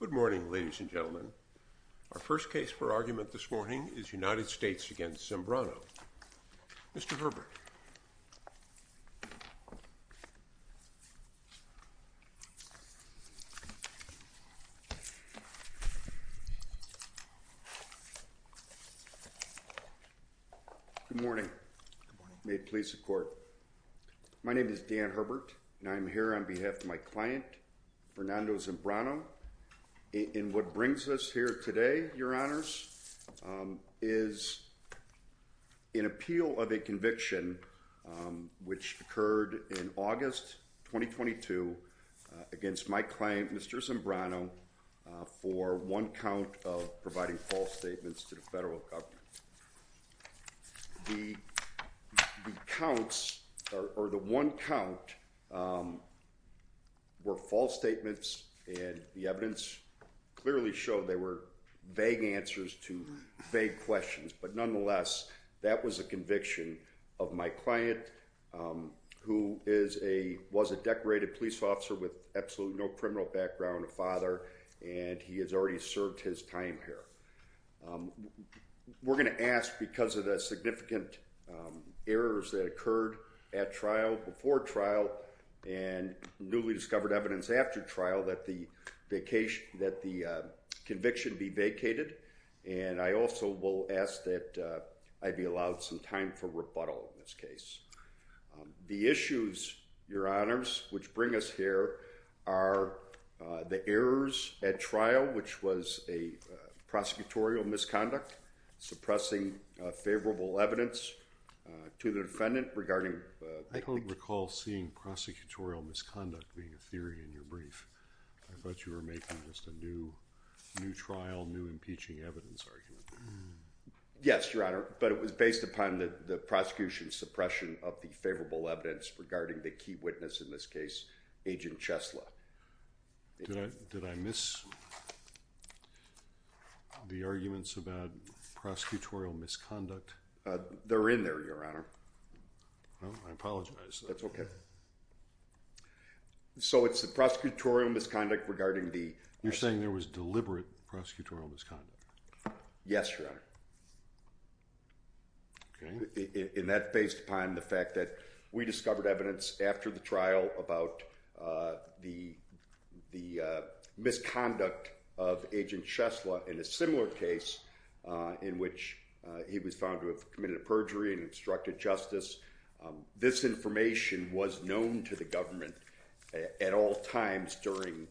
Good morning, ladies and gentlemen. Our first case for argument this morning is United States v. Zambrano. Mr. Herbert. Good morning. May it please the court. My name is Dan Herbert, and I'm here on behalf of my client, Fernando Zambrano. And what brings us here today, your honors, is an appeal of a conviction which occurred in August 2022 against my client, Mr. Zambrano, for one count of providing false statements to the federal government. The counts, or the one count, were false statements, and the evidence clearly showed they were vague answers to vague questions. But nonetheless, that was a conviction of my client, who was a decorated police officer with absolutely no criminal background, a father, and he has already served his time here. We're going to ask, because of the significant errors that occurred at trial, before trial, and newly discovered evidence after trial, that the conviction be vacated. And I also will ask that I be allowed some time for rebuttal in this case. The issues, your honors, which bring us here are the errors at trial, which was a prosecutorial misconduct, suppressing favorable evidence to the defendant regarding the conviction. While seeing prosecutorial misconduct being a theory in your brief, I thought you were making just a new trial, new impeaching evidence argument. Yes, your honor, but it was based upon the prosecution's suppression of the favorable evidence regarding the key witness in this case, Agent Chesla. Did I miss the arguments about prosecutorial misconduct? They're in there, your honor. I apologize. That's okay. So it's the prosecutorial misconduct regarding the... You're saying there was deliberate prosecutorial misconduct. Yes, your honor. Okay. And that's based upon the fact that we discovered evidence after the trial about the misconduct of Agent Chesla in a similar case in which he was found to have committed a perjury and obstructed justice. This information was known to the government at all times during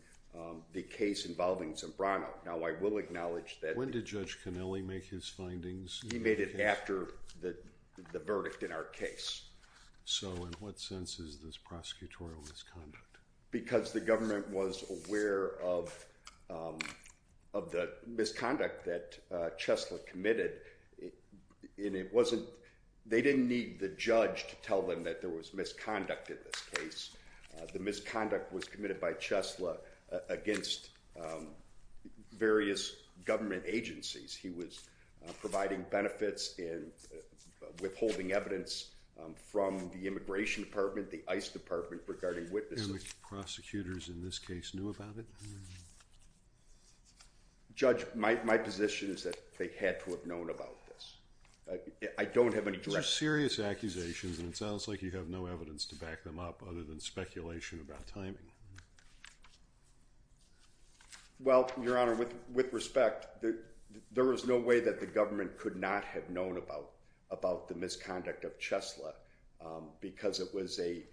the case involving Zimbrano. Now, I will acknowledge that... When did Judge Connelly make his findings? He made it after the verdict in our case. So in what sense is this prosecutorial misconduct? Because the government was aware of the misconduct that Chesla committed, and it wasn't... They didn't need the judge to tell them that there was misconduct in this case. The misconduct was committed by Chesla against various government agencies. He was providing benefits and withholding evidence from the Immigration Department, the ICE Department regarding witnesses. And the prosecutors in this case knew about it? Judge, my position is that they had to have known about this. I don't have any direct... These are serious accusations, and it sounds like you have no evidence to back them up other than speculation about timing. Well, Your Honor, with respect, there was no way that the government could not have known about the misconduct of Chesla because it was a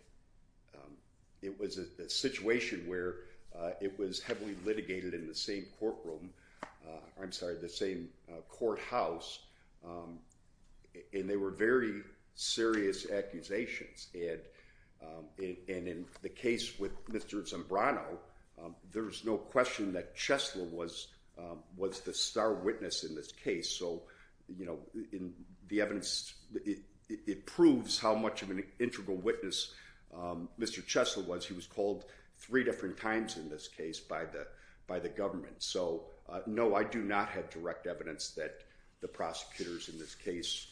situation where it was heavily litigated in the same courtroom... I'm sorry, the same courthouse, and they were very serious accusations. And in the case with Mr. Zambrano, there's no question that Chesla was the star witness in this case. So the evidence, it proves how much of an integral witness Mr. Chesla was. He was called three different times in this case by the government. So, no, I do not have direct evidence that the prosecutors in this case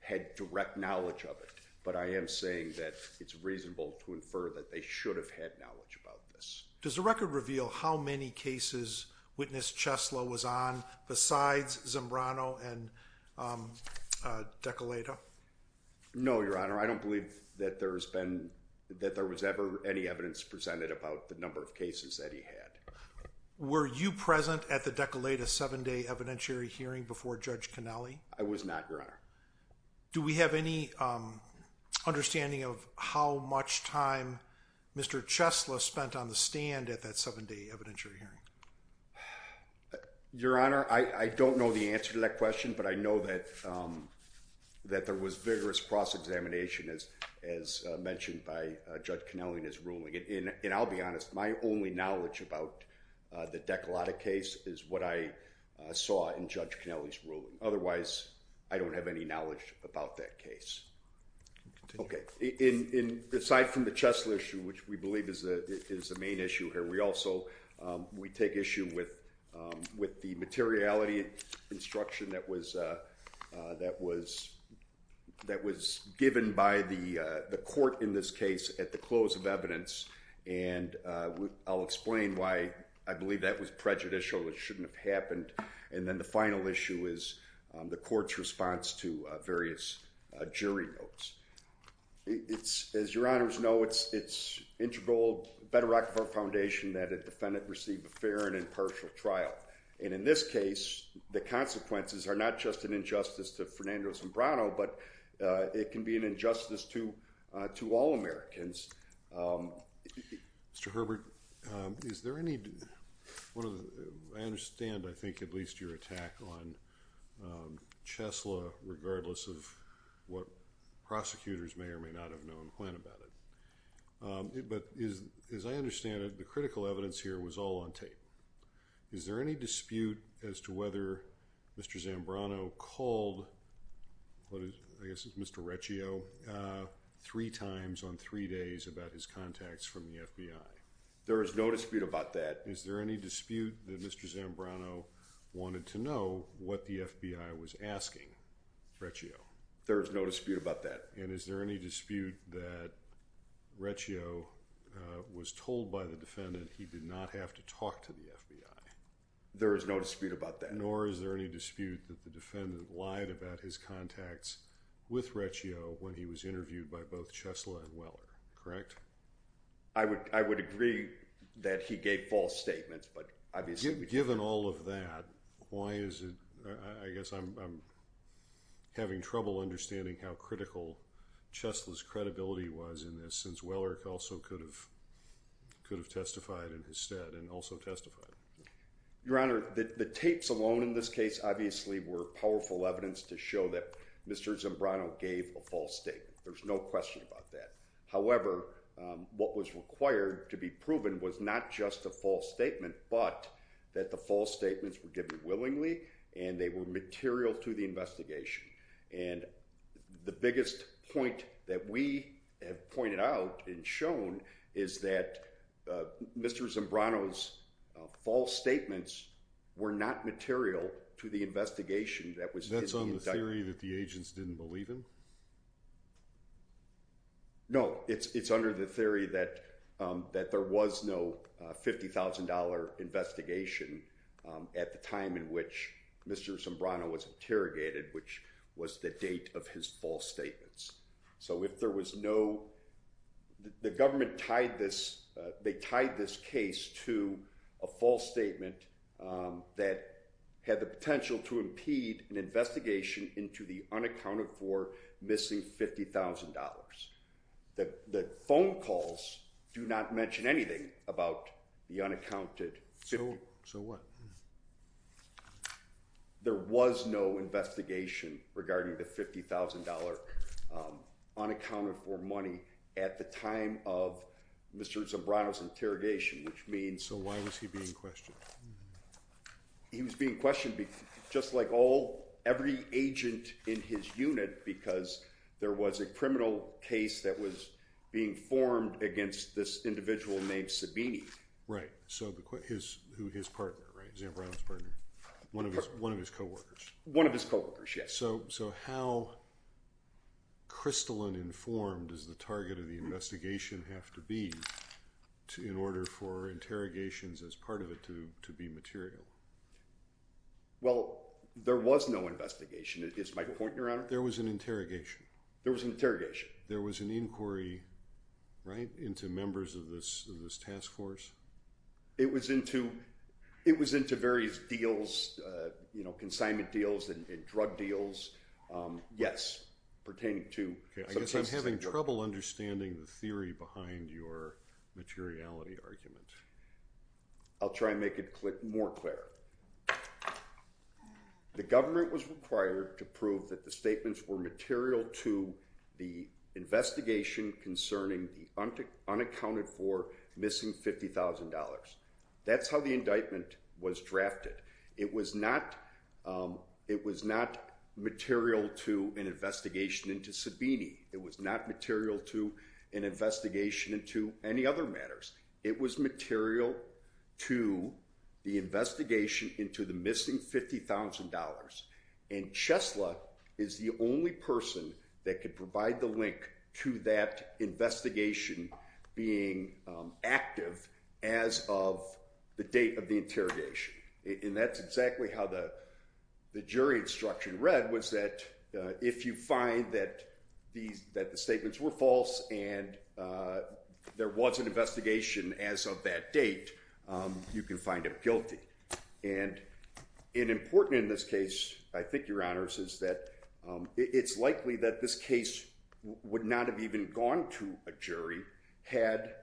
had direct knowledge of it. But I am saying that it's reasonable to infer that they should have had knowledge about this. Does the record reveal how many cases witness Chesla was on besides Zambrano and Decoleta? No, Your Honor, I don't believe that there was ever any evidence presented about the number of cases that he had. Were you present at the Decoleta seven-day evidentiary hearing before Judge Connelly? I was not, Your Honor. Do we have any understanding of how much time Mr. Chesla spent on the stand at that seven-day evidentiary hearing? Your Honor, I don't know the answer to that question, but I know that there was vigorous cross-examination, as mentioned by Judge Connelly in his ruling. And I'll be honest, my only knowledge about the Decoleta case is what I saw in Judge Connelly's ruling. Otherwise, I don't have any knowledge about that case. Okay. Aside from the Chesla issue, which we believe is the main issue here, we also take issue with the materiality instruction that was given by the court in this case at the close of evidence. And I'll explain why I believe that was prejudicial, it shouldn't have happened. And then the final issue is the court's response to various jury notes. As Your Honors know, it's integral to the Bedrock Foundation that a defendant receive a fair and impartial trial. And in this case, the consequences are not just an injustice to Fernandez and Brano, but it can be an injustice to all Americans. Mr. Herbert, is there any – I understand, I think, at least your attack on Chesla, regardless of what prosecutors may or may not have known when about it. But as I understand it, the critical evidence here was all on tape. Is there any dispute as to whether Mr. Zambrano called, I guess it was Mr. Reccio, three times on three days about his contacts from the FBI? There is no dispute about that. Is there any dispute that Mr. Zambrano wanted to know what the FBI was asking Reccio? There is no dispute about that. And is there any dispute that Reccio was told by the defendant he did not have to talk to the FBI? There is no dispute about that. Nor is there any dispute that the defendant lied about his contacts with Reccio when he was interviewed by both Chesla and Weller, correct? I would agree that he gave false statements, but obviously— Given all of that, why is it – I guess I'm having trouble understanding how critical Chesla's credibility was in this, since Weller also could have testified in his stead and also testified. Your Honor, the tapes alone in this case obviously were powerful evidence to show that Mr. Zambrano gave a false statement. There's no question about that. However, what was required to be proven was not just a false statement, but that the false statements were given willingly and they were material to the investigation. And the biggest point that we have pointed out and shown is that Mr. Zambrano's false statements were not material to the investigation that was his conduct. That's on the theory that the agents didn't believe him? No, it's under the theory that there was no $50,000 investigation at the time in which Mr. Zambrano was interrogated, which was the date of his false statements. So if there was no – the government tied this – they tied this case to a false statement that had the potential to impede an investigation into the unaccounted for missing $50,000. The phone calls do not mention anything about the unaccounted $50,000. So what? There was no investigation regarding the $50,000 unaccounted for money at the time of Mr. Zambrano's interrogation, which means – So why was he being questioned? He was being questioned just like all – every agent in his unit because there was a criminal case that was being formed against this individual named Sabini. Right. So his – who his partner, right? Zambrano's partner. One of his co-workers. One of his co-workers, yes. So how crystalline in form does the target of the investigation have to be in order for interrogations as part of it to be material? Well, there was no investigation. Is my point in your honor? There was an interrogation. There was an interrogation. There was an inquiry, right, into members of this task force? It was into various deals, you know, consignment deals and drug deals, yes, pertaining to – I guess I'm having trouble understanding the theory behind your materiality argument. I'll try and make it more clear. The government was required to prove that the statements were material to the investigation concerning the unaccounted for missing $50,000. That's how the indictment was drafted. It was not – it was not material to an investigation into Sabini. It was not material to an investigation into any other matters. It was material to the investigation into the missing $50,000. And Chesla is the only person that could provide the link to that investigation being active as of the date of the interrogation. And that's exactly how the jury instruction read was that if you find that the statements were false and there was an investigation as of that date, you can find him guilty. And important in this case, I think, your honors, is that it's likely that this case would not have even gone to a jury had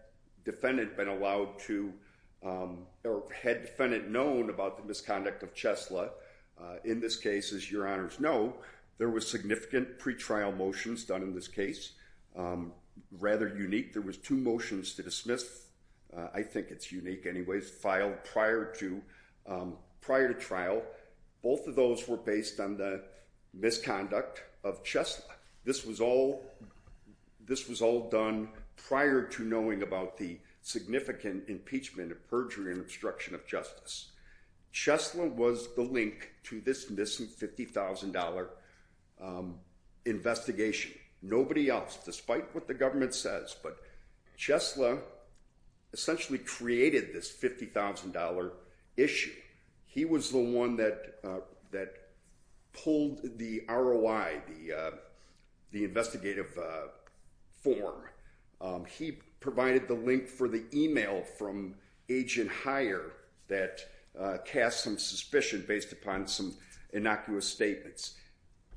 defendant been allowed to – or had defendant known about the misconduct of Chesla. In this case, as your honors know, there was significant pretrial motions done in this case. Rather unique, there was two motions to dismiss – I think it's unique anyways – filed prior to trial. Both of those were based on the misconduct of Chesla. This was all done prior to knowing about the significant impeachment and perjury and obstruction of justice. Chesla was the link to this missing $50,000 investigation. Nobody else, despite what the government says, but Chesla essentially created this $50,000 issue. He was the one that pulled the ROI, the investigative form. He provided the link for the email from Agent Hire that cast some suspicion based upon some innocuous statements.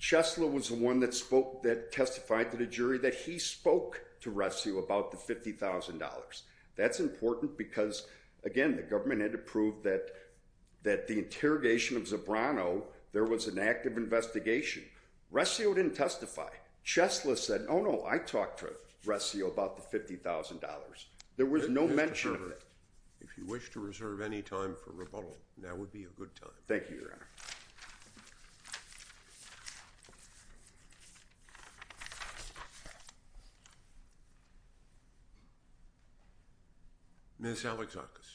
Chesla was the one that testified to the jury that he spoke to Ressio about the $50,000. That's important because, again, the government had to prove that the interrogation of Zabrano, there was an active investigation. Ressio didn't testify. Chesla said, oh no, I talked to Ressio about the $50,000. There was no mention of it. If you wish to reserve any time for rebuttal, now would be a good time. Thank you, your honor. Ms. Alexakis.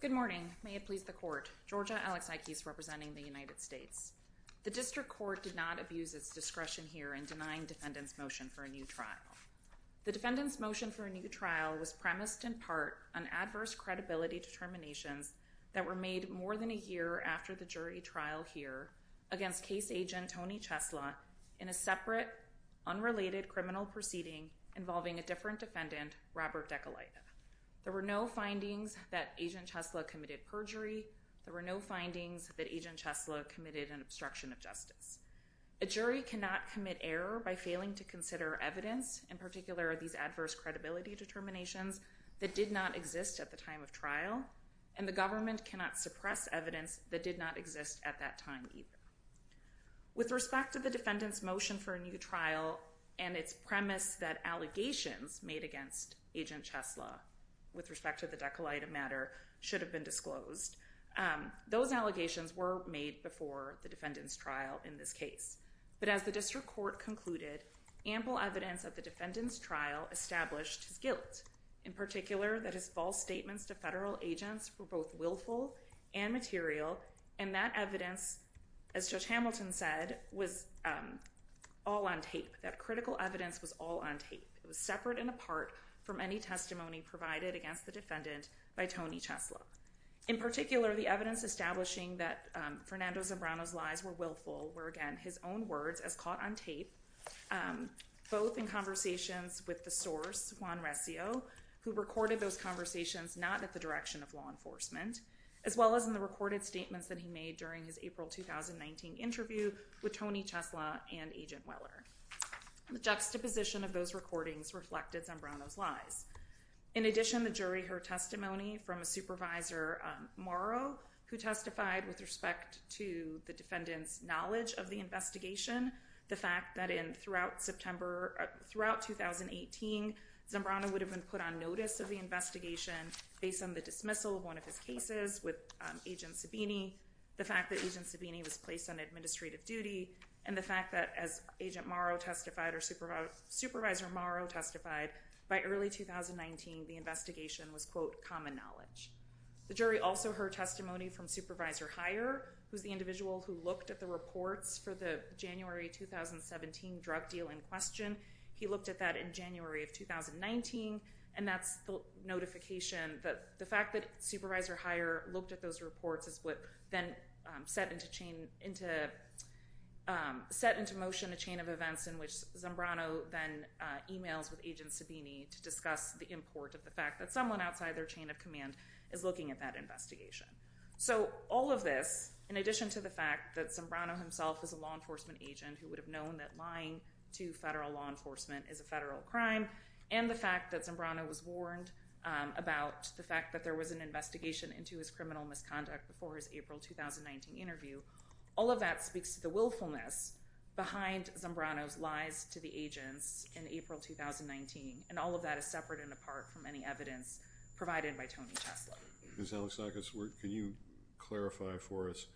Good morning. May it please the court. Georgia Alexakis representing the United States. The district court did not abuse its discretion here in denying defendants motion for a new trial. The defendants motion for a new trial was premised in part on adverse credibility determinations that were made more than a year after the jury trial here against case agent Tony Chesla in a separate, unrelated criminal proceeding involving a different defendant, Robert Dekulaita. There were no findings that agent Chesla committed perjury. There were no findings that agent Chesla committed an obstruction of justice. A jury cannot commit error by failing to consider evidence, in particular these adverse credibility determinations, that did not exist at the time of trial, and the government cannot suppress evidence that did not exist at that time either. With respect to the defendants motion for a new trial and its premise that allegations made against agent Chesla with respect to the Dekulaita matter should have been disclosed, those allegations were made before the defendants trial in this case. But as the district court concluded, ample evidence at the defendants trial established his guilt, in particular that his false statements to federal agents were both willful and material, and that evidence, as Judge Hamilton said, was all on tape. That critical evidence was all on tape. It was separate and apart from any testimony provided against the defendant by Tony Chesla. In particular, the evidence establishing that Fernando Zambrano's lies were willful, were again his own words as caught on tape, both in conversations with the source, Juan Recio, who recorded those conversations not at the direction of law enforcement, as well as in the recorded statements that he made during his April 2019 interview with Tony Chesla and Agent Weller. The juxtaposition of those recordings reflected Zambrano's lies. In addition, the jury heard testimony from a supervisor, Morrow, who testified with respect to the defendants knowledge of the investigation, the fact that throughout 2018 Zambrano would have been put on notice of the investigation based on the dismissal of one of his cases with Agent Sabini, the fact that Agent Sabini was placed on administrative duty, and the fact that as Agent Morrow testified or Supervisor Morrow testified, by early 2019 the investigation was, quote, common knowledge. The jury also heard testimony from Supervisor Heyer, who's the individual who looked at the reports for the January 2017 drug deal in question. He looked at that in January of 2019, and that's the notification, the fact that Supervisor Heyer looked at those reports is what then set into motion a chain of events in which Zambrano then emails with Agent Sabini to discuss the import of the fact that someone outside their chain of command is looking at that investigation. So all of this, in addition to the fact that Zambrano himself is a law enforcement agent who would have known that lying to federal law enforcement is a federal crime, and the fact that Zambrano was warned about the fact that there was an investigation into his criminal misconduct before his April 2019 interview, all of that speaks to the willfulness behind Zambrano's lies to the agents in April 2019, and all of that is separate and apart from any evidence provided by Tony Chesley. Ms. Alexakis, can you clarify for us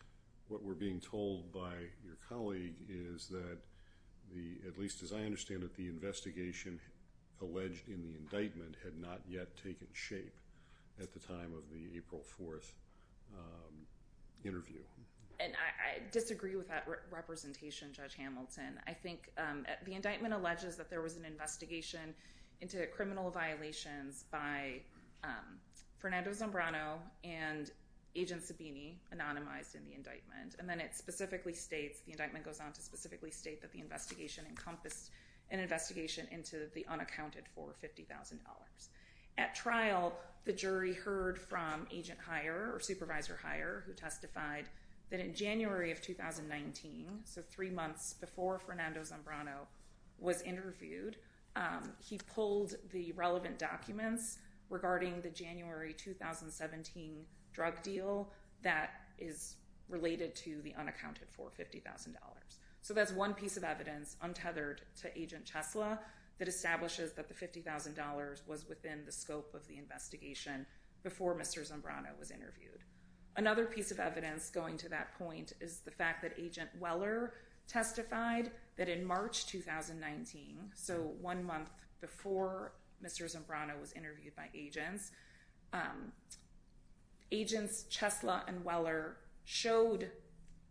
what we're being told by your colleague is that, at least as I understand it, the investigation alleged in the indictment had not yet taken shape at the time of the April 4th interview? And I disagree with that representation, Judge Hamilton. I think the indictment alleges that there was an investigation into criminal violations by Fernando Zambrano and Agent Sabini, anonymized in the indictment, and then it specifically states, the indictment goes on to specifically state that the investigation encompassed an investigation into the unaccounted for $50,000. At trial, the jury heard from Agent Heyer, or Supervisor Heyer, who testified that in January of 2019, so three months before Fernando Zambrano was interviewed, he pulled the relevant documents regarding the January 2017 drug deal that is related to the unaccounted for $50,000. So that's one piece of evidence untethered to Agent Chesley that establishes that the $50,000 was within the scope of the investigation before Mr. Zambrano was interviewed. Another piece of evidence going to that point is the fact that Agent Weller testified that in March 2019, so one month before Mr. Zambrano was interviewed by agents, agents Chesley and Weller showed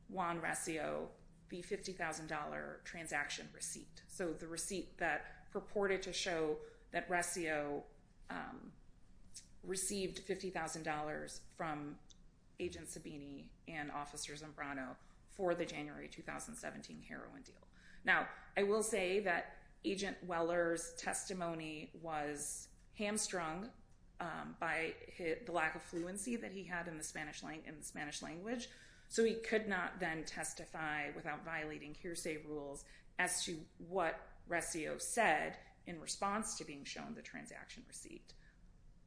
Juan Recio the $50,000 transaction receipt, so the receipt that purported to show that Recio received $50,000 from Agent Sabini and Officers Zambrano for the January 2017 heroin deal. Now, I will say that Agent Weller's testimony was hamstrung by the lack of fluency that he had in the Spanish language, so he could not then testify without violating hearsay rules as to what Recio said in response to being shown the transaction receipt.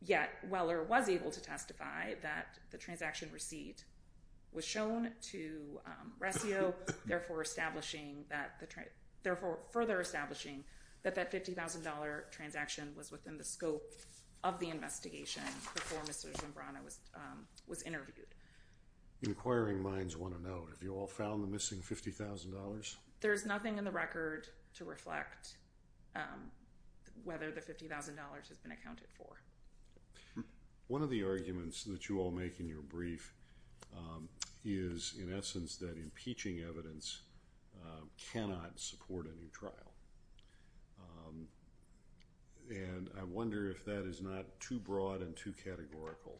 Yet, Weller was able to testify that the transaction receipt was shown to Recio, therefore further establishing that that $50,000 transaction was within the scope of the investigation before Mr. Zambrano was interviewed. Inquiring minds want to know, have you all found the missing $50,000? There's nothing in the record to reflect whether the $50,000 has been accounted for. One of the arguments that you all make in your brief is, in essence, that impeaching evidence cannot support a new trial, and I wonder if that is not too broad and too categorical,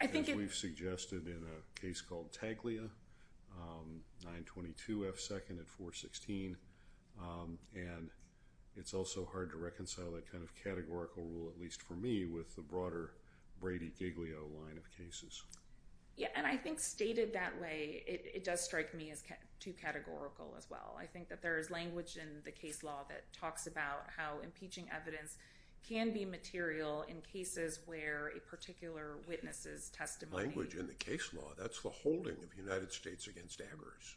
as we've suggested in a case called Taglia, 922 F. 2nd at 416, and it's also hard to reconcile that kind of categorical rule, at least for me, with the broader Brady-Giglio line of cases. Yeah, and I think stated that way, it does strike me as too categorical as well. I think that there is language in the case law that talks about how impeaching evidence can be material in cases where a particular witness is testifying. Language in the case law, that's the holding of United States against Amherst.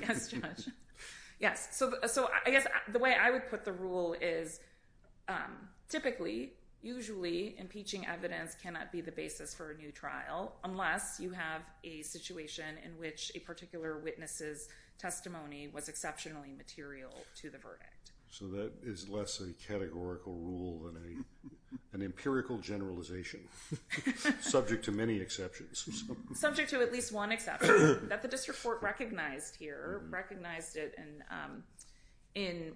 Yes, Judge. Yes, so I guess the way I would put the rule is, typically, usually, impeaching evidence cannot be the basis for a new trial, unless you have a situation in which a particular witness's testimony was exceptionally material to the verdict. So that is less a categorical rule than an empirical generalization, subject to many exceptions. Subject to at least one exception, that the district court recognized here, recognized it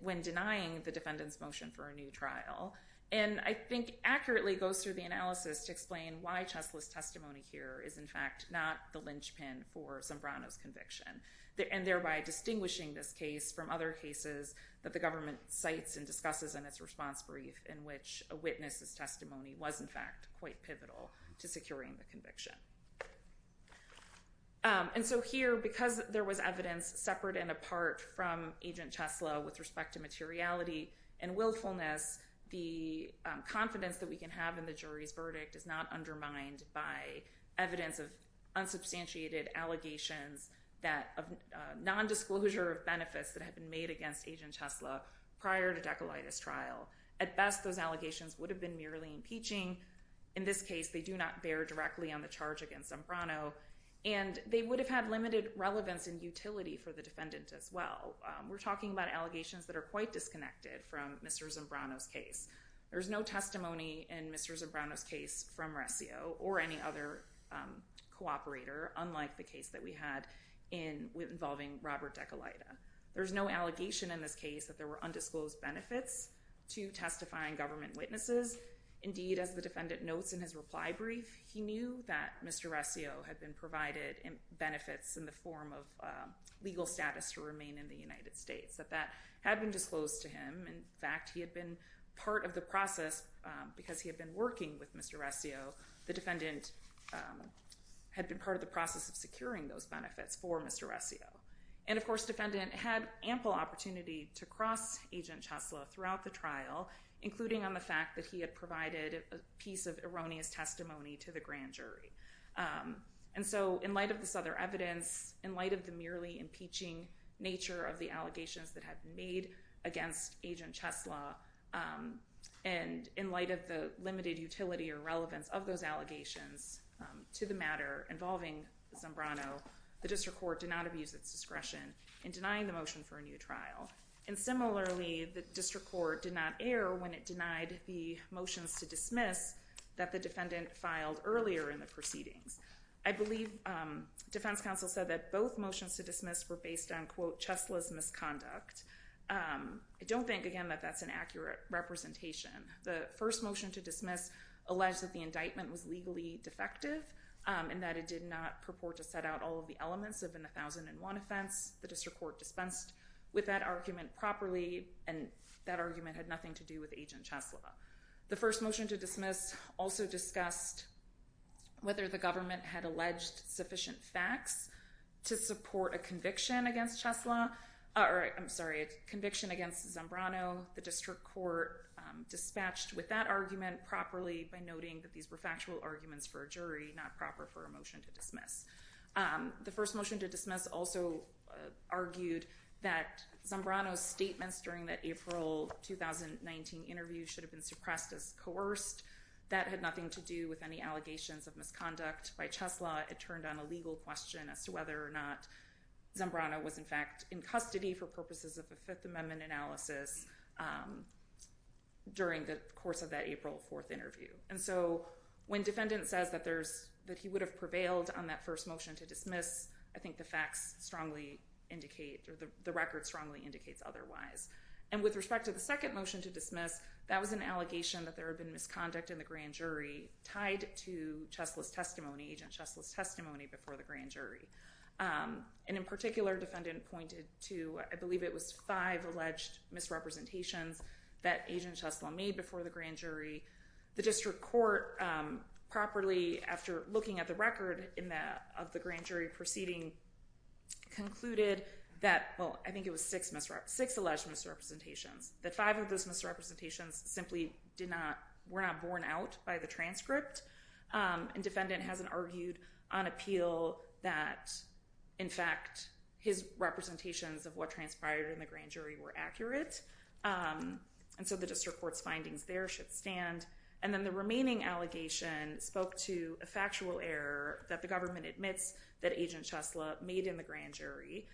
when denying the defendant's motion for a new trial, and I think accurately goes through the analysis to explain why Chesley's testimony here is, in fact, not the linchpin for Sombrano's conviction, and thereby distinguishing this case from other cases that the government cites and discusses in its response brief, in which a witness's testimony was, in fact, quite pivotal to securing the conviction. And so here, because there was evidence separate and apart from Agent Chesley with respect to materiality and willfulness, the confidence that we can have in the jury's verdict is not undermined by evidence of unsubstantiated allegations, non-disclosure of benefits that have been made against Agent Chesley prior to Decolitis trial. At best, those allegations would have been merely impeaching. In this case, they do not bear directly on the charge against Sombrano, and they would have had limited relevance and utility for the defendant as well. We're talking about allegations that are quite disconnected from Mr. Sombrano's case. There's no testimony in Mr. Sombrano's case from Rescio or any other cooperator, unlike the case that we had involving Robert Decolita. There's no allegation in this case that there were undisclosed benefits to testifying government witnesses. Indeed, as the defendant notes in his reply brief, he knew that Mr. Rescio had been provided benefits in the form of legal status to remain in the United States, that that had been disclosed to him. In fact, he had been part of the process, because he had been working with Mr. Rescio, the defendant had been part of the process of securing those benefits for Mr. Rescio. And, of course, defendant had ample opportunity to cross Agent Chesley throughout the trial, including on the fact that he had provided a piece of erroneous testimony to the grand jury. And so, in light of this other evidence, in light of the merely impeaching nature of the allegations that had been made against Agent Chesley, and in light of the limited utility or relevance of those allegations to the matter involving Sombrano, the district court did not abuse its discretion in denying the motion for a new trial. And similarly, the district court did not err when it denied the motions to dismiss that the defendant filed earlier in the proceedings. I believe defense counsel said that both motions to dismiss were based on, quote, Chesley's misconduct. I don't think, again, that that's an accurate representation. The first motion to dismiss alleged that the indictment was legally defective and that it did not purport to set out all of the elements of an 1001 offense. The district court dispensed with that argument properly, and that argument had nothing to do with Agent Chesley. The first motion to dismiss also discussed whether the government had alleged sufficient facts to support a conviction against Chesley, or I'm sorry, a conviction against Sombrano. The district court dispatched with that argument properly by noting that these were factual arguments for a jury, not proper for a motion to dismiss. The first motion to dismiss also argued that Sombrano's statements during that April 2019 interview should have been suppressed as coerced. That had nothing to do with any allegations of misconduct by Chesley. It turned on a legal question as to whether or not Sombrano was, in fact, in custody for purposes of a Fifth Amendment analysis during the course of that April 4th interview. When defendant says that he would have prevailed on that first motion to dismiss, I think the facts strongly indicate, or the record strongly indicates otherwise. With respect to the second motion to dismiss, that was an allegation that there had been misconduct in the grand jury tied to Chesley's testimony, Agent Chesley's testimony before the grand jury. In particular, defendant pointed to, I believe it was five alleged misrepresentations that Agent Chesley made before the grand jury. The district court properly, after looking at the record of the grand jury proceeding, concluded that, well, I think it was six alleged misrepresentations, that five of those misrepresentations simply were not borne out by the transcript. Defendant hasn't argued on appeal that, in fact, his representations of what transpired in the grand jury were accurate. And so the district court's findings there should stand. And then the remaining allegation spoke to a factual error that the government admits that Agent Chesley made in the grand jury.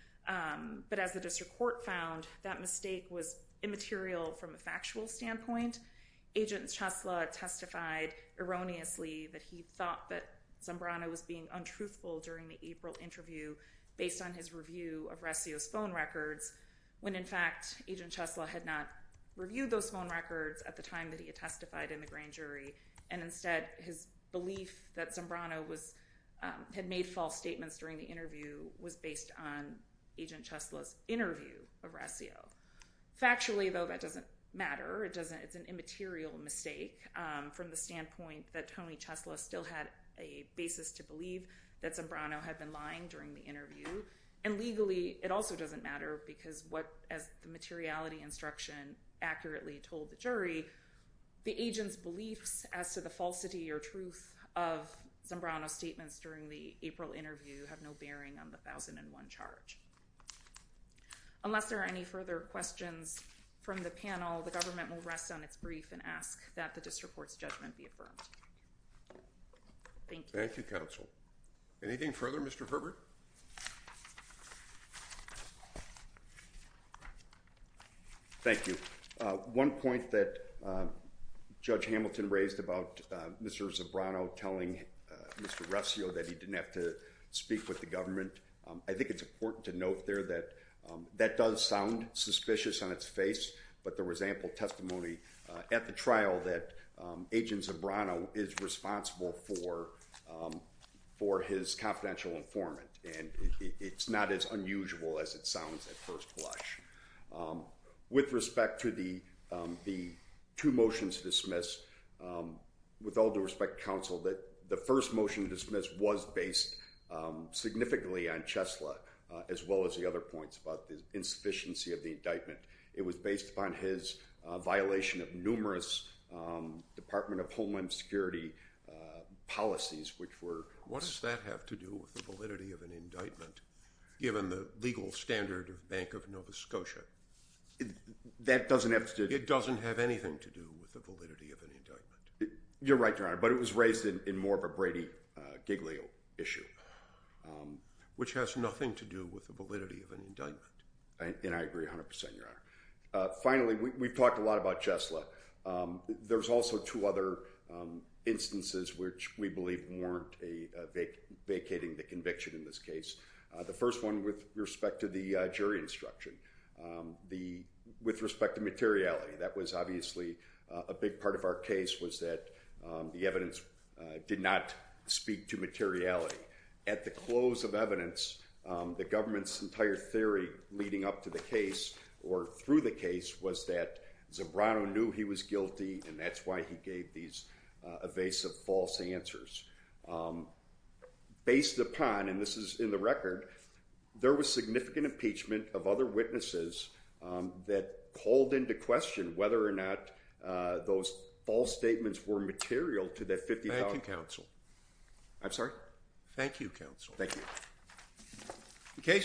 But as the district court found, that mistake was immaterial from a factual standpoint. Agent Chesley testified erroneously that he thought that Zambrano was being untruthful during the April interview based on his review of Resio's phone records, when, in fact, Agent Chesley had not reviewed those phone records at the time that he had testified in the grand jury. And instead, his belief that Zambrano had made false statements during the interview was based on Agent Chesley's interview of Resio. Factually, though, that doesn't matter. It's an immaterial mistake from the standpoint that Tony Chesley still had a basis to believe that Zambrano had been lying during the interview. And legally, it also doesn't matter because what, as the materiality instruction accurately told the jury, the agent's beliefs as to the falsity or truth of Zambrano's statements during the April interview have no bearing on the 1001 charge. Unless there are any further questions from the panel, the government will rest on its brief and ask that the district court's judgment be affirmed. Thank you. Thank you, counsel. Anything further, Mr. Herbert? Thank you. One point that Judge Hamilton raised about Mr. Zambrano telling Mr. Resio that he didn't have to speak with the government, I think it's important to note there that that does sound suspicious on its face, but there was ample testimony at the trial that Agent Zambrano is responsible for his confidential informant, and it's not as unusual as it sounds at first blush. With respect to the two motions dismissed, with all due respect, counsel, that the first motion dismissed was based significantly on Chesley, as well as the other points about the insufficiency of the indictment. It was based upon his violation of numerous Department of Homeland Security policies, which were— What does that have to do with the validity of an indictment, given the legal standard of Bank of Nova Scotia? That doesn't have to do— It doesn't have anything to do with the validity of an indictment. You're right, Your Honor, but it was raised in more of a Brady-Giglio issue. Which has nothing to do with the validity of an indictment. And I agree 100%, Your Honor. Finally, we've talked a lot about Chesley. There's also two other instances which we believe weren't vacating the conviction in this case. The first one with respect to the jury instruction. With respect to materiality, that was obviously a big part of our case, was that the evidence did not speak to materiality. At the close of evidence, the government's entire theory leading up to the case, or through the case, was that Zabrano knew he was guilty, and that's why he gave these evasive false answers. Based upon, and this is in the record, there was significant impeachment of other witnesses that called into question whether or not those false statements were material to that $50,000— Thank you, counsel. I'm sorry? Thank you, counsel. Thank you.